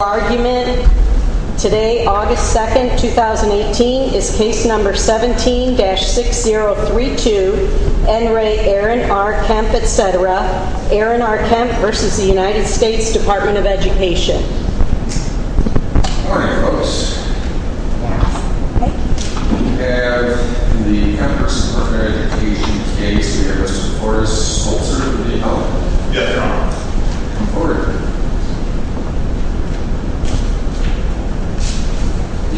Argument today, August 2nd, 2018, is case number 17-6032, N. Ray, Aaron R. Kemp, etc., Aaron R. Kemp v. U.S. Department of Education Good morning, folks. We have the members of the Department of Education case here to support us. Solzer for the appellant. Yes, Your Honor. Order. You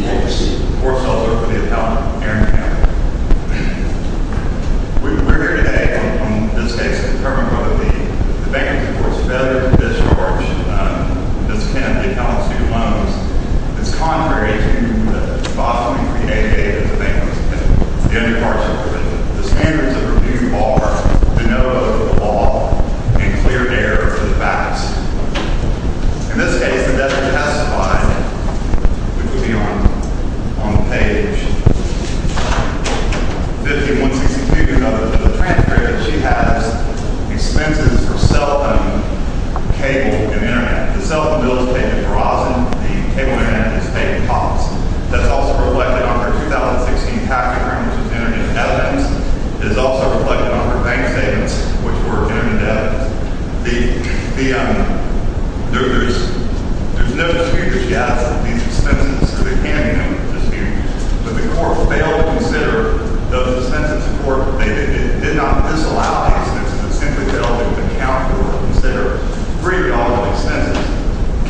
may proceed. We're Solzer for the appellant, Aaron R. Kemp. We're here today on this case to determine whether the defendant supports failure to discharge this appellant's new loans. It's contrary to the bossing we created as a defendant, the underparts of the provision. The standards of review are to know the law and clear error for the facts. In this case, the defendant has supplied, which would be on page 50-162 of the transcript, that she has expenses for cell phone, cable, and internet. The cell phone bill is paid in per ausem. The cable and internet is paid in pops. That's also reflected on her 2016 tax return, which was internet evidence. It is also reflected on her bank statements, which were internet evidence. The, um, there, there's, there's no serious doubt that these expenses are the candidate for disputes. But the court failed to consider those expenses. The court did not disallow these expenses. It simply failed to account for or consider $3 of expenses,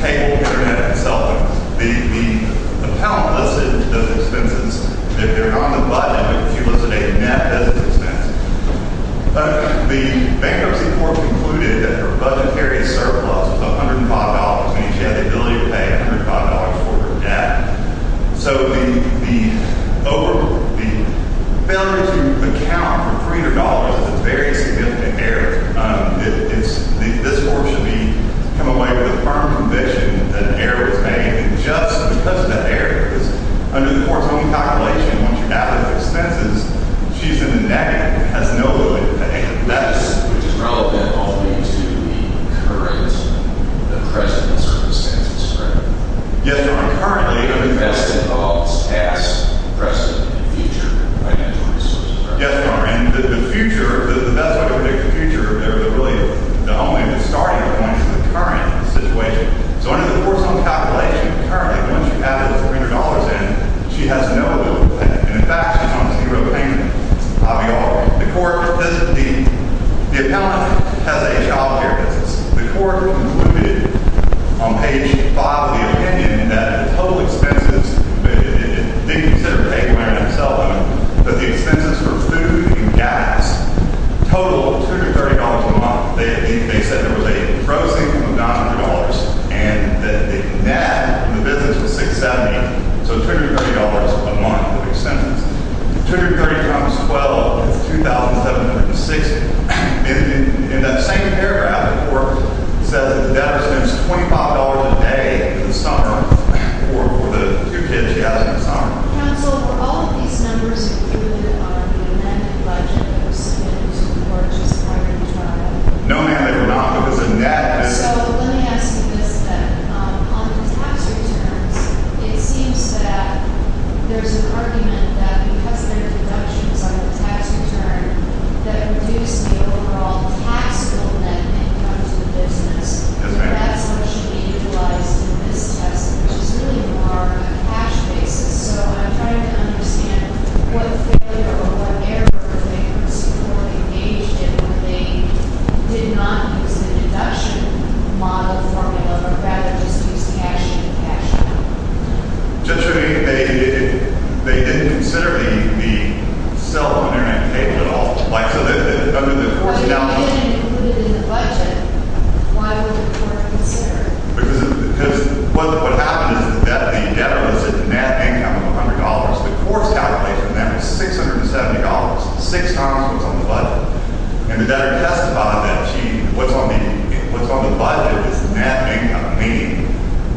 cable, internet, and cell phones. The, the appellant listed those expenses. If they're on the budget, she listed a net as expenses. But the bankruptcy court concluded that her budgetary surplus of $105 means she had the ability to pay $105 for her debt. So the, the over, the failure to account for $300 is a very significant error. Um, it, it's, the, this court should be, come away with a firm conviction that an error was made. And just because of that error, because under the court's own calculation, once you add up the expenses, she's in the negative. Has no ability to pay. That's. Which is relevant only to the current, the present circumstances, correct? Yes, Your Honor. Currently. The best involves past, present, and future financial resources, correct? Yes, Your Honor. And the, the future, the, the best way to predict the future, the, the really, the only starting point for the current situation. So under the court's own calculation, currently, once you add up the $300 in, she has no ability to pay. And in fact, she's on a zero payment. I'll be honored. The court, the, the, the accountant has a child care business. The court concluded on page 5 of the opinion that the total expenses, it, it, it, it didn't consider paying the money themselves. But the expenses for food and gas total $230 a month. They, they, they said there was a closing of $900 and that the net in the business was $670. So $230 a month of expenses. $230 times 12 is $2,760. In, in, in that same paragraph, the court says that the debtor spends $25 a day in the summer for, for the two kids she has in the summer. Counsel, were all of these numbers included on the amended budget that was submitted to the court just prior to trial? No, ma'am, they were not. It was a net. So let me ask you this then. On the tax returns, it seems that there's an argument that because there are deductions on the tax return, that reduced the overall taxable net income to the business. Yes, ma'am. And that's what should be utilized in this test, which is really more of a cash basis. So I'm trying to understand what failure or what error they could have supported, engaged in, where they did not use the deduction model formula, but rather just used cash in and cash out. Judge, I mean, they, they, they didn't consider the, the self-management payment at all. If they didn't include it in the budget, why would the court consider it? Because, because what, what happened is that the debtor was at net income of $100. The court's calculation then was $670, six times what's on the budget. And the debtor testified that she, what's on the, what's on the budget is net income, meaning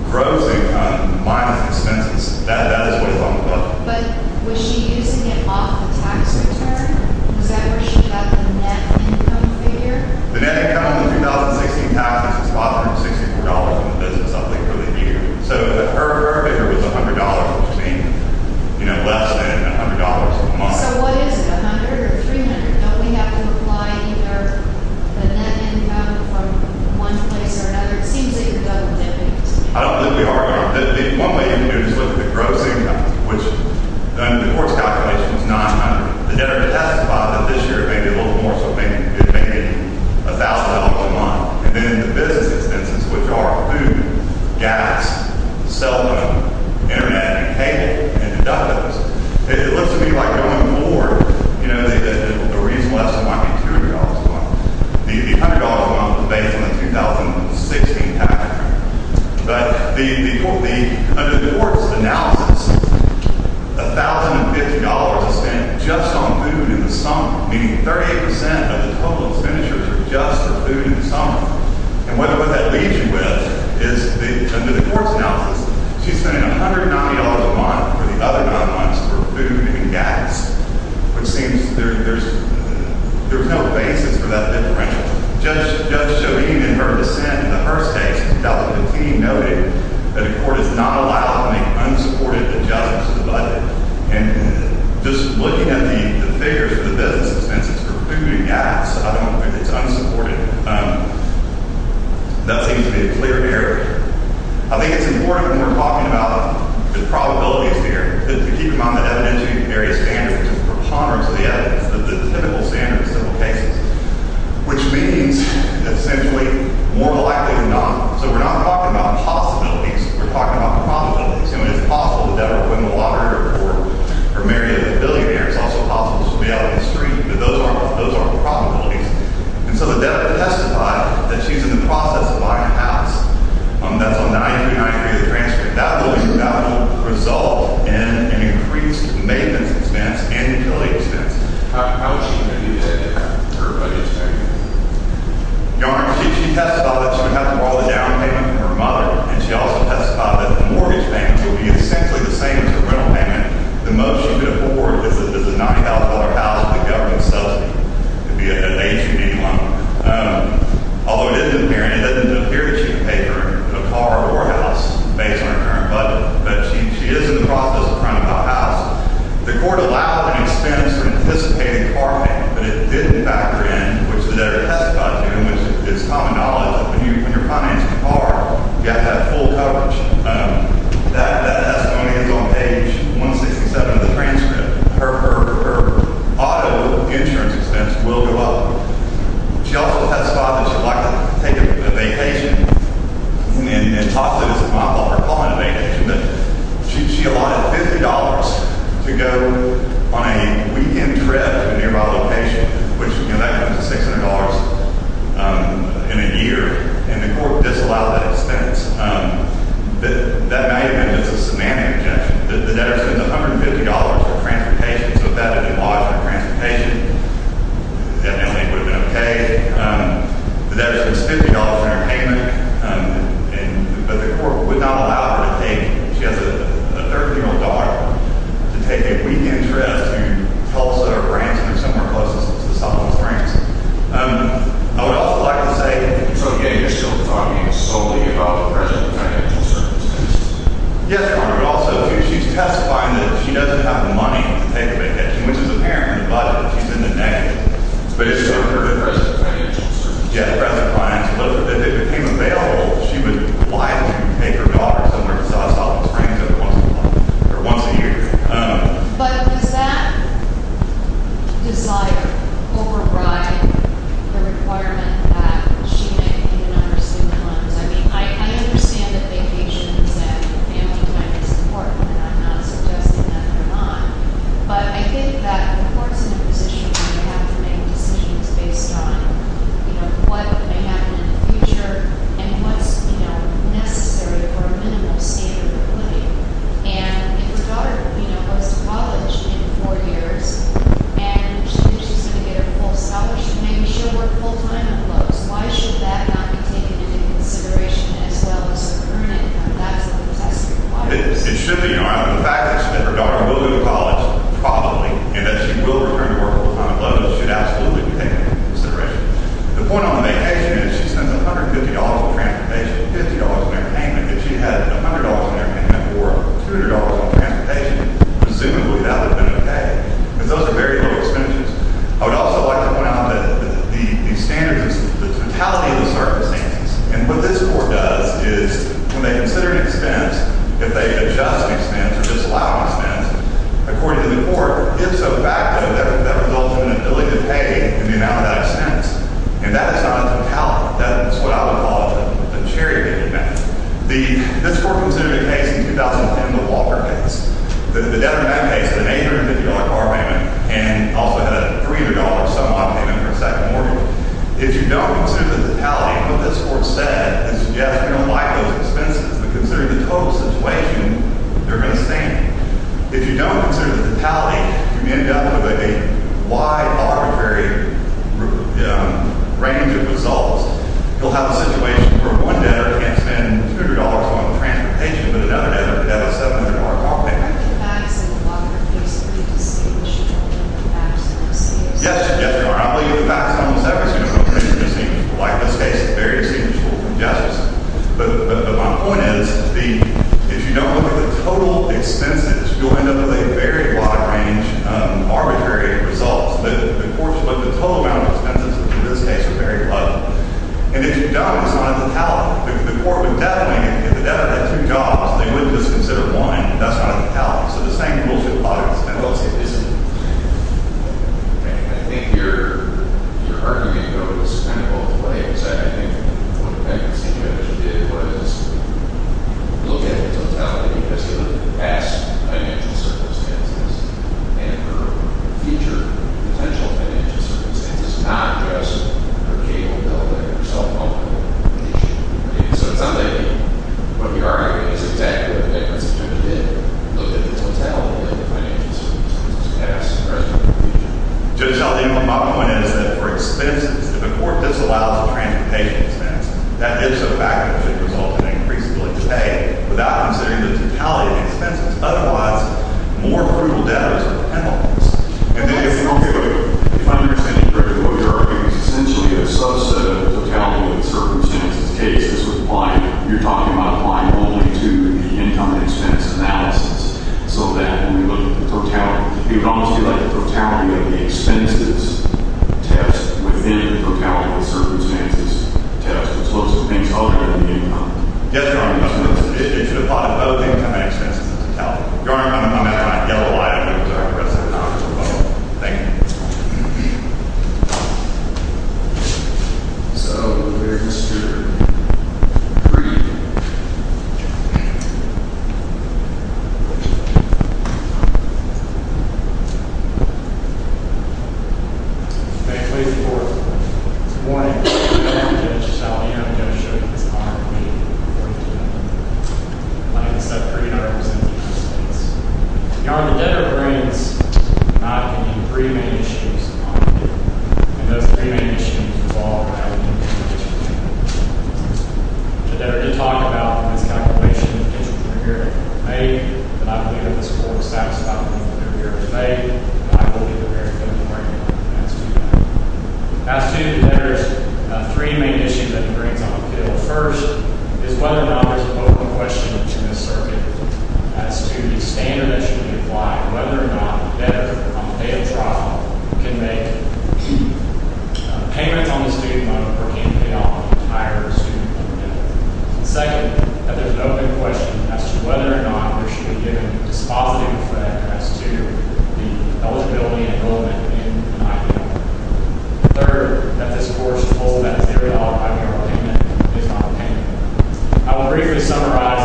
gross income minus expenses. That, that is what's on the budget. But was she using it off the tax return? Was that where she got the net income figure? The net income in the 2016 tax is $564 in the business, I believe, for the year. So her, her figure was $100, which means, you know, less than $100 a month. So what is it, $100 or $300? Don't we have to apply either the net income from one place or another? It seems like you're double-dipping us. I don't think we are. One way you can do it is look at the gross income, which under the court's calculation is $900. The debtor testified that this year it may be a little more, so it may be $1,000 a month. And then the business expenses, which are food, gas, cell phone, internet, cable, and deductibles. It looks to me like going forward, you know, the reason why it's less than $200 a month. The $100 a month was based on the 2016 tax. But under the court's analysis, $1,050 is spent just on food in the summer, meaning 38% of the total expenditures are just for food in the summer. And what that leaves you with is under the court's analysis, she's spending $190 a month for the other nine months for food and gas, which seems there's no basis for that differential. Judge Schoeding, in her dissent in the first case, felt that the team noted that the court is not allowed to make unsupported adjustments to the budget. And just looking at the figures for the business expenses for food and gas, I don't think it's unsupported. That seems to be a clear barrier. I think it's important when we're talking about the probabilities here that we keep in mind that evidentiary standards are just preponderance of the evidence, the typical standards of the cases. Which means, essentially, more likely than not, so we're not talking about possibilities, we're talking about probabilities. I mean, it's possible the debtor put in the lottery report, or marry a billionaire, it's also possible she'll be out on the street, but those aren't probabilities. And so the debtor testified that she's in the process of buying a house that's on the 99th day of the transfer. That will result in an increased maintenance expense and utility expense. How is she going to do that in her budget statement? Your Honor, she testified that she would have to borrow the down payment from her mother, and she also testified that the mortgage payment would be essentially the same as the rental payment. The most she could afford is a $9,000 house that the government sells to be an H&E loan. Although it doesn't appear that she would pay for a car or a house based on her current budget, but she is in the process of finding that house. The court allowed an expense for anticipated car payment, but it didn't factor in which the debtor testified to, and it's common knowledge that when you're financing a car, you have to have full coverage. That testimony is on page 167 of the transcript. Her auto insurance expense will go up. She also testified that she'd like to take a vacation, and talk to this mom about her calling a vacation, but she allotted $50 to go on a weekend trip to a nearby location, which, you know, that comes to $600 in a year, and the court disallowed that expense. That may have been just a semantic objection. The debtor spends $150 for transportation, so if that had been lodged for transportation, it definitely would have been okay. The debtor spends $50 on her payment, but the court would not allow her to take, if she has a 13-year-old daughter, to take a weekend trip to Tulsa or Branson or somewhere close to the south of Branson. I would also like to say that... So, yeah, you're still talking solely about the present financial circumstance? Yes, Your Honor. Also, she's testifying that she doesn't have the money to take a vacation, which is apparent in the budget. She's in the negative. But it's still her present financial circumstance. Yeah, the present financial... If it became available, she would wisely make her daughter somewhere south of Branson once a month, or once a year. But does that desire override the requirement that she may be given on her student loans? I mean, I understand that vacations and family time is important, and I'm not suggesting that they're not, but I think that the court's in a position where they have to make decisions based on, you know, what may happen in the future and what's, you know, necessary for a minimum standard of living. And if her daughter, you know, goes to college in four years and she's going to get her full scholarship, maybe she'll work full-time on loans. Why should that not be taken into consideration as well as the current income? That's what the test requires. It should be, Your Honor. The fact that her daughter will go to college, probably, and that she will return to work full-time on loans should absolutely be taken into consideration. The point on the vacation is she spends $150 on transportation, $50 on entertainment. If she had $100 on entertainment or $200 on transportation, presumably that would have been okay. Because those are very low expenses. I would also like to point out that the standard is the totality of the circumstances. And what this court does is when they consider an expense, if they adjust an expense or disallow an expense, according to the court, if so, that results in an ability to pay in the amount of that expense. And that is not a totality. That is what I would call a charitable amount. This court considered a case in 2010, the Walker case. The Debra Mann case, the $850 car payment, and also had a $300 some-odd payment for a second mortgage. If you don't consider the totality of what this court said and suggest you don't like those expenses, but consider the total situation, they're going to stand. If you don't consider the totality, you may end up with a wide, arbitrary range of results. You'll have a situation where one debtor can't spend $200 on transportation, but another debtor could have a $700 car payment. Are the facts in the Walker case really distinguished from the facts in the Sears case? Yes, they are. I believe the facts on the Sears case are very distinguished from the facts in the Sears case. But my point is, if you don't look at the total expenses, you'll end up with a very wide range of arbitrary results. The court should look at the total amount of expenses, which in this case are very low. And if you don't, it's not a totality. The court would definitely, if the debtor had two jobs, they would just consider one. That's not a totality. So the same rule should apply to this case. I think your argument goes kind of both ways. I think what the debtor did was look at the totality because of the past financial circumstances and her future potential financial circumstances, not just her cable debt or her cell phone debt. So it's not like what we are arguing is exactly what the debtor did. Look at the totality of the financial circumstances past, present, and future. Judge, my point is that for expenses, if a court just allows a transportation expense, that is a fact that should result in an increased ability to pay without considering the totality of the expenses. Otherwise, more brutal debtors are penalized. And then if you don't give a fundersending for what you're arguing is essentially a subset of the totality of the circumstances case, this would apply. You're talking about applying only to the income and expense analysis. So that when we look at the totality, it would almost be like the totality of the expenses test within the totality of the circumstances test as opposed to things other than the income. Yes, Your Honor. I suppose it should apply to both income and expenses as a totality. Your Honor, I'm not going to yell a lot at you because I have the rest of the time for both. Thank you. Thank you. So we're just going to read. Thank you ladies and gentlemen. Good morning. I'm going to show you this card. I'm going to read it for you today. I'm going to read this stuff for you. I'm going to present it to you as it is. Your Honor, the debtor brings three main issues. And those three main issues revolve around the debtor. The debtor did talk about his calculation of the potential for a hearing in May. And I believe that this court was satisfied with the hearing in May. And I believe that there is going to be a hearing in the past two days. As to the debtor's three main issues that he brings on the field, first is whether or not there's an open question to this circuit as to the standard that should be applied, whether or not the debtor, on the day of trial, can make payments on the student loan or can pay off the entire student loan debt. Second, that there's an open question as to whether or not there should be given a dispositive effect as to the eligibility and enrollment in an IPL. Third, that this court's rule that there is no IPL payment is not a payment. I will briefly summarize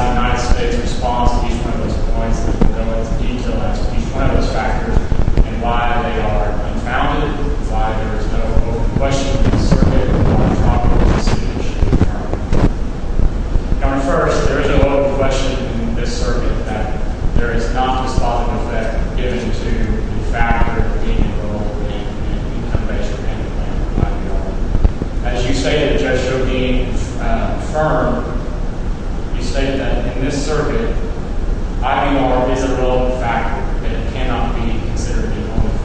the United States' response to each one of those points and go into detail as to each one of those factors and why they are confounded, why there is no open question in this circuit, or a problem with this issue in general. Number first, there is no open question in this circuit that there is not a dispositive effect given to the factor of being enrolled in an income-based or independent IPL. As you stated, Judge Shogin, firm, you stated that in this circuit, IVR is a relevant factor, but it cannot be considered an enrollment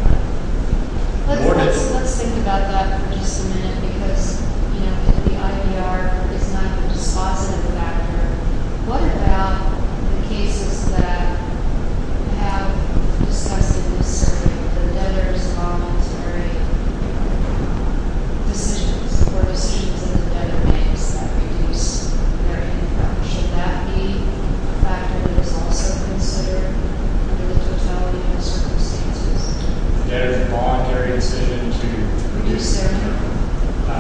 factor. Let's think about that for just a minute, because the IVR is not a dispositive factor. What about the cases that have discussed in this circuit, the debtor's voluntary decisions or decisions that the debtor makes that reduce their income? Should that be a factor that is also considered for the totality of the circumstances? The debtor's voluntary decision to reduce their income.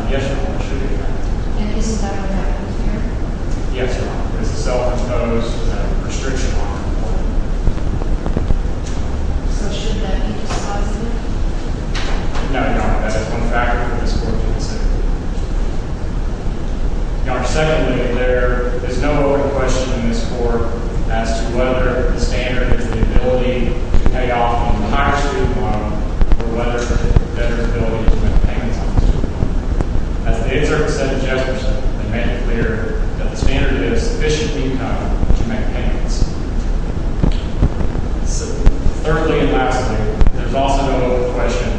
Yes or no, it should be a factor. And isn't that what happens here? Yes or no. It's a self-imposed restriction on enrollment. So should that be dispositive? No, Your Honor. That is one factor in this court to consider. Your Honor, secondly, there is no question in this court as to whether the standard is the ability to pay off on the higher student loan or whether the debtor's ability to make payments on the student loan. As the excerpt said in Jefferson, they made it clear that the standard is sufficient income to make payments. Thirdly and lastly, there's also no question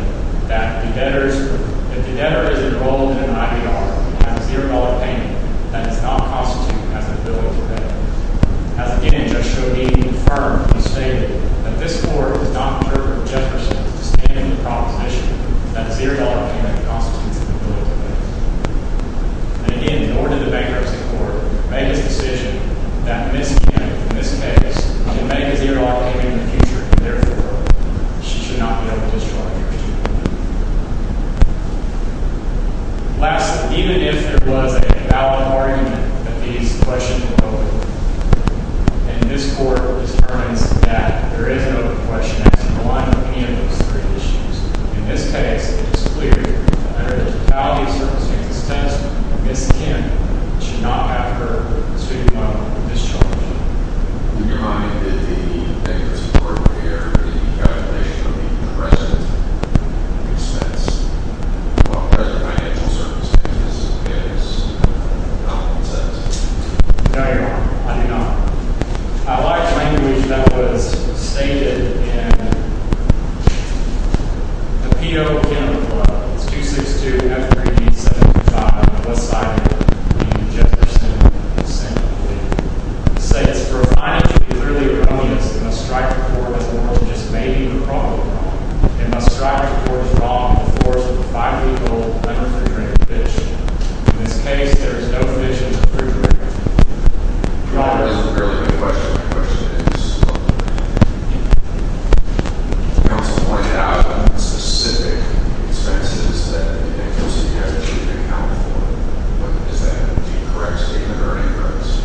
that if the debtor is enrolled in an IBR and has a $0 payment, that does not constitute as an ability to pay. As again, Judge Shodin confirmed and stated that this court does not interpret Jefferson's standard proposition that a $0 payment constitutes an ability to pay. And again, nor did the bankruptcy court make its decision that Ms. Kim, in this case, should make a $0 payment in the future and therefore she should not be able to discharge her student loan. Lastly, even if there was a valid argument that these questions were open, and this court determines that there is no question as to the alignment of any of those three issues, in this case, it is clear that under the totality of circumstances Ms. Kim should not have her student loan discharged. In your mind, did the bankruptcy court prepare any calculation of the present expense? What were the financial circumstances of Ms. Kim's compensation? No, Your Honor. I do not. I like language that was stated in the P.O. It's 262-F375 on the left side of your name, Jefferson, in the center of the page. It says, provided to be clearly erroneous, it must strike the court as the world just may be wrongly wrong. It must strike the court as wrong in the force of a five-year-old unrefrigerated fish. In this case, there is no fish in the refrigerator. Your Honor, this is a fairly good question. My question is, the counsel pointed out specific expenses that the agency has to account for. Is that correct statement or erroneous?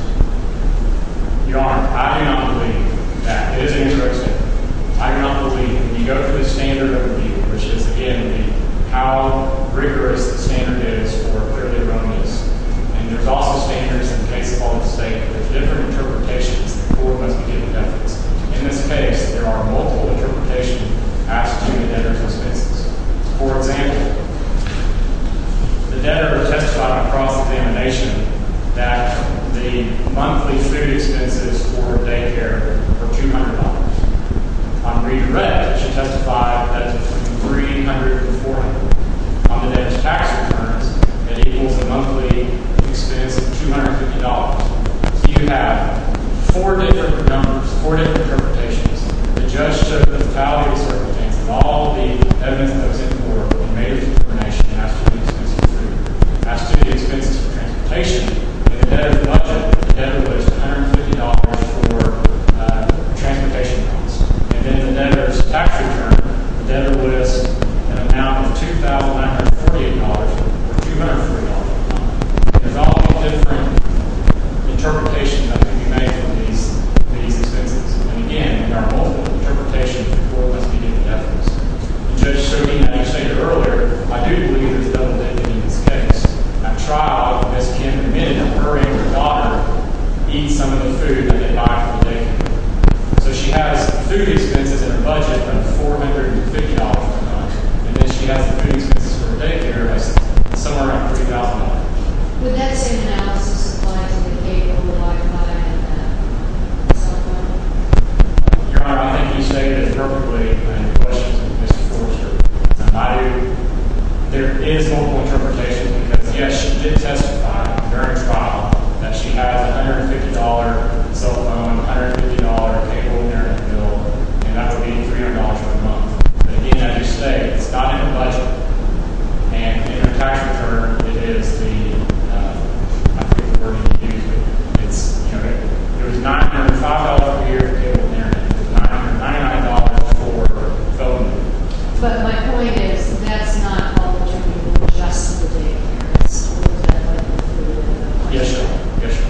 Your Honor, I do not believe that. It is erroneous. I do not believe. You go to the standard of review, which is, again, how rigorous the standard is for clearly erroneous. And there's also standards in the case of all the state with different interpretations before it was given evidence. In this case, there are multiple interpretations as to the debtor's expenses. For example, the debtor testified in a cross-examination that the monthly free expenses for daycare were $200. On read and read, it should testify that it's between $300 and $400. On the debt to tax returns, it equals the monthly expense of $250. So you have four different numbers, four different interpretations. The judge took the fatalities of all the evidence that was in court. He made a determination as to the expenses for transportation. In the debtor's budget, the debtor was $150 for transportation costs. And in the debtor's tax return, the debtor was an amount of $2,948, or $240. There's all different interpretations that can be made from these expenses. And again, there are multiple interpretations before it was given evidence. And Judge Serkian, as I stated earlier, I do believe there's a double debt in this case. At trial, Ms. Kim admitted that her and her daughter eat some of the food that they buy for the daycare. So she has food expenses in her budget of $450 per month. And then she has food expenses for daycare somewhere around $3,000. Would that same analysis apply to the cable, the Wi-Fi, and the cell phone? Your Honor, I think you stated it perfectly when you questioned Ms. Forster. There is multiple interpretations. Because yes, she did testify during trial that she has a $150 cell phone, $150 cable during the bill. And that would be $300 per month. But again, as you stated, it's not in the budget. And in her tax return, it is the, I forget the word you used, but it's, you know, it was $905 per year for cable and internet. It's $999 for phone. But my point is, that's not all the food just for the daycare. It's all the debt, like the food, and the money. Yes, Your Honor. Yes, Your Honor.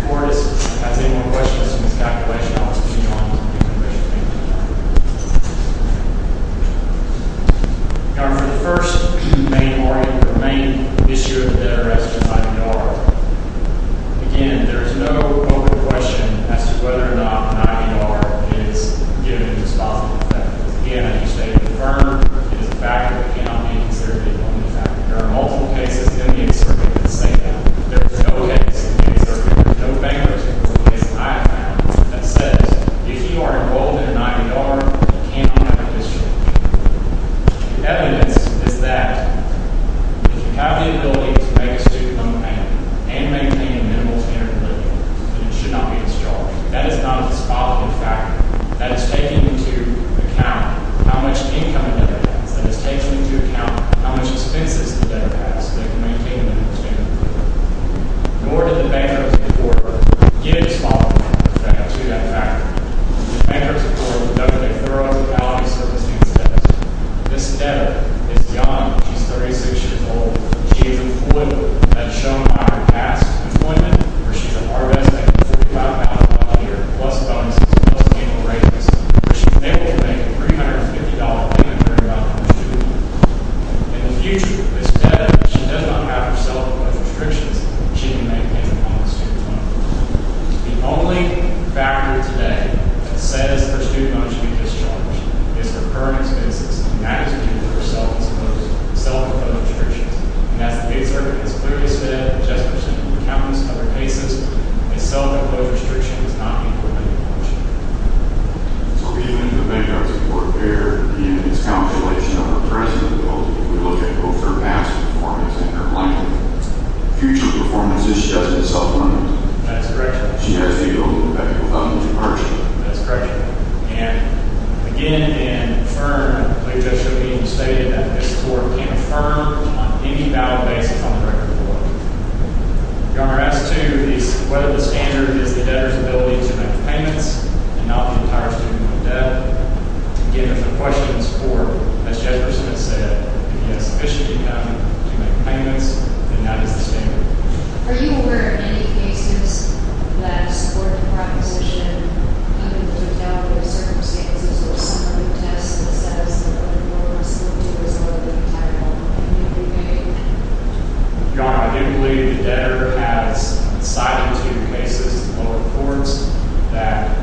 If your court has any more questions Ms. Calculation, I'll turn it over to you, Your Honor. Your Honor, for the first main argument, the main issue of the debt arrest is IBR. Again, there is no open question as to whether or not an IBR is given a disposable effect. Again, I think you stated it in the firm. It is a factor that cannot be considered the only factor. that say that. There is no case in the excerpt no bankruptcy case I have found that says, if you are involved in an IBR, you cannot have it destroyed. The evidence is that if you have the ability to make a student loan payment and maintain a minimal standard of living, then it should not be destroyed. That is not a disposable factor. That is taking into account how much income a debtor has. That is taking into account how much expenses a debtor has so they can maintain a minimum standard of living. Nor did the bankruptcy court give a disposable effect to that factor. The bankruptcy court does not make thorough legalities of the student's debt. This debtor is young. She is 36 years old. She is an employer. That is shown by her past employment, where she is an R-Res making $45,000 a year, plus bonuses, plus annual ratings, where she is able to make a $350 payment every month to her student. In the future, this debtor, if she does not have her self-imposed restrictions, she can maintain a minimum standard of living. The only factor today that says her student loan should be discharged is her current expenses. That is due to her self-imposed self-imposed restrictions. And that is the big circuit. It is clearly set up just for simple accountants and other cases. A self-imposed restriction is not equal to an imposed one. So even if the bankruptcy court there in its calculation of the present, if we look at both her past performance and her likely future performances, she doesn't have self-imposed. That is correct, Your Honor. She has to be able to pay $4,000 a year. That is correct, Your Honor. And again, in the firm, I believe it should be stated that this court can affirm on any valid basis on the record of the court. Your Honor, as to whether the standard is the debtor's ability to make payments and not the entire student loan debt, again, if the question is for, as Jefferson has said, if he has sufficient income to make payments, then that is the standard. Are you aware of any cases that support the proposition of the debtor's circumstances or some of the tests in the status of a loan or a student loan to resolve the entire loan in any way? Your Honor, I do believe the debtor has cited two cases in local courts that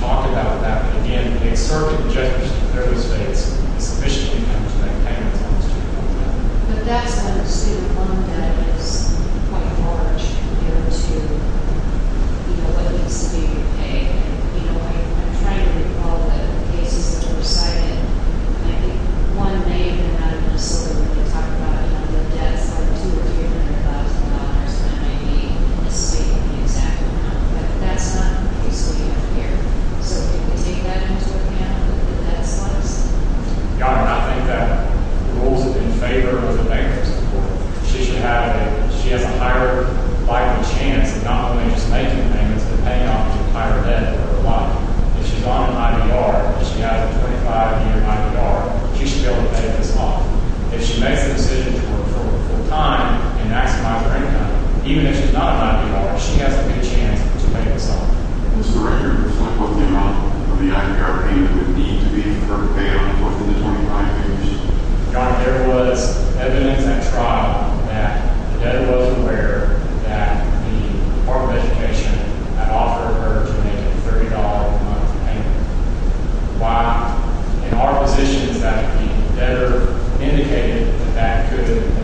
talk about that. And again, the external objectives of those dates is sufficient income to make payments on the student loan debt. But that's not a student loan debt. It's quite large compared to, you know, what it needs to be to pay. And, you know, I'm trying to recall the cases which were cited. I think one may have been not necessarily what they talk about on the debt side of $200,000 when I may be misstating the exact amount. But that's not the case we have here. So can we take that into account in the debt side of something? Your Honor, I think that the rules are in favor of the debtor's support. She should have it. She has a higher likely chance of not only just making payments but paying off the entire debt for her client. If she's on an IBR, if she has a 25-year IBR, she should be able to pay this off. If she makes a decision to work full-time and maximize her income, even if she's not an IBR, she has a good chance to pay this off. Does the record reflect what the amount of the IBR payment would need to be for her to pay off within the 25 years? Your Honor, there was evidence at trial that the debtor was aware that the Department of Education had offered her to make a $30 a month payment. Why? In our positions that the debtor indicated that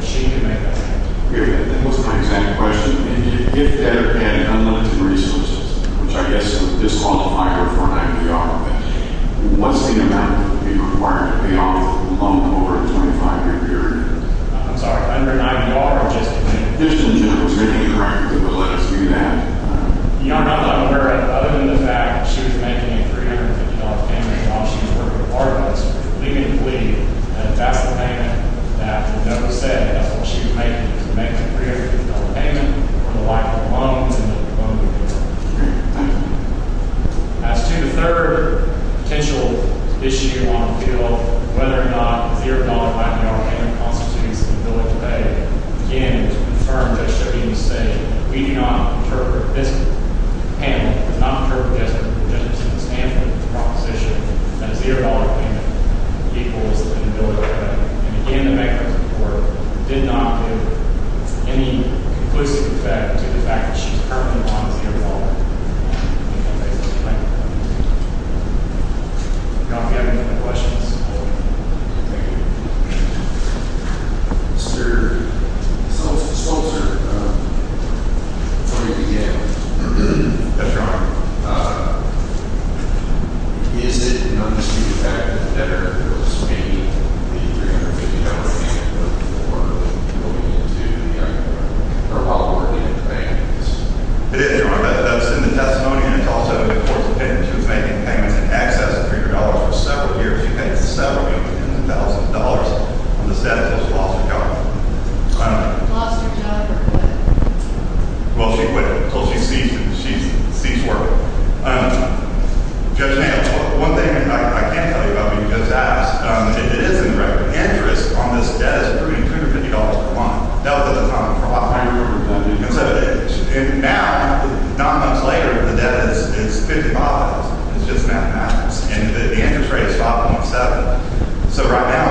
she could make that payment. Period. That was my exact question. If the debtor had unlimited resources, which I guess would disqualify her from an IBR, what's the amount that would be required to pay off a loan over a 25-year period? I'm sorry, under an IBR, or just in general? Just in general. Is there any record that would let us do that? Your Honor, I'm not aware other than the fact that she was making a $350 payment while she was working part-time. So, legally, that's the payment that the debtor said that's what she was making. She was making a $350 payment for the life of the loan and the loan would be paid off. As to the third potential issue on the bill, whether or not the $0 payment constitutes an ability to pay, again, it was confirmed that it should be the same. We do not interpret this panel, do not interpret this panel as a stand-alone proposition that a $0 payment equals an ability to pay. And again, the mechanism in court did not give any conclusive effect to the fact that she was currently on the payroll. Thank you. If y'all have any other questions, we'll take them. Mr. Solzer, attorney at the DA, that's right. Is it an undisputed fact that the debtor was making the $350 payment before moving into the other part, or while working in the bank that she the $350 payment? It is. Remember that's in the testimony and it's also in the court's opinion. She was making payments in excess of $300 for several years. She paid several million dollars on the debt until she lost her job. Well, she quit until she ceased working. Judge Nail, one thing I can't tell you about because it is in the record, the interest on this debt is $250 per month. Now, nine months later, the debt is $55. It's just mathematics. The interest rate is 5.7. So right now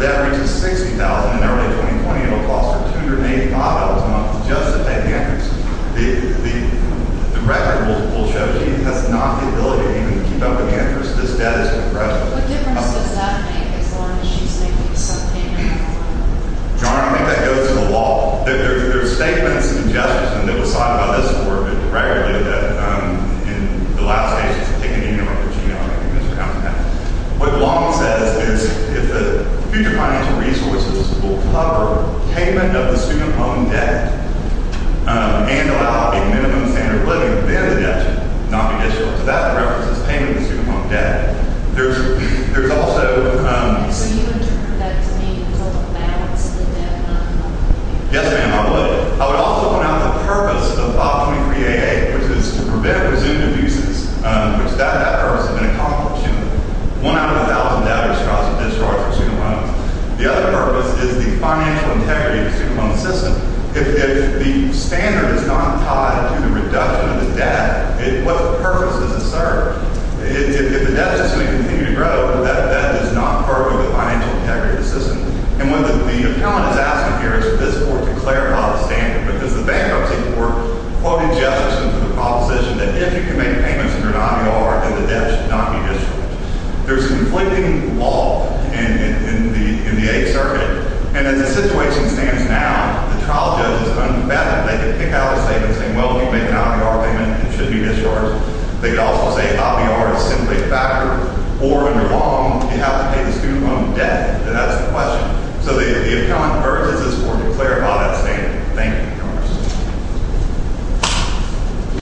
it reaches $60,000 in early 2020. It will cost her $285 a month just to pay the interest. The record will show she has not the ability even to keep up the interest. This debt is depressed. What difference does that make as long as she's making money? Nail, I would also point out the purpose of OP 23 AA, which is to prevent resumed abuses. One out of a thousand debt withdrawals are student loans. The other purpose is the financial integrity of the student loan. The account purges this form to clarify that statement. Thank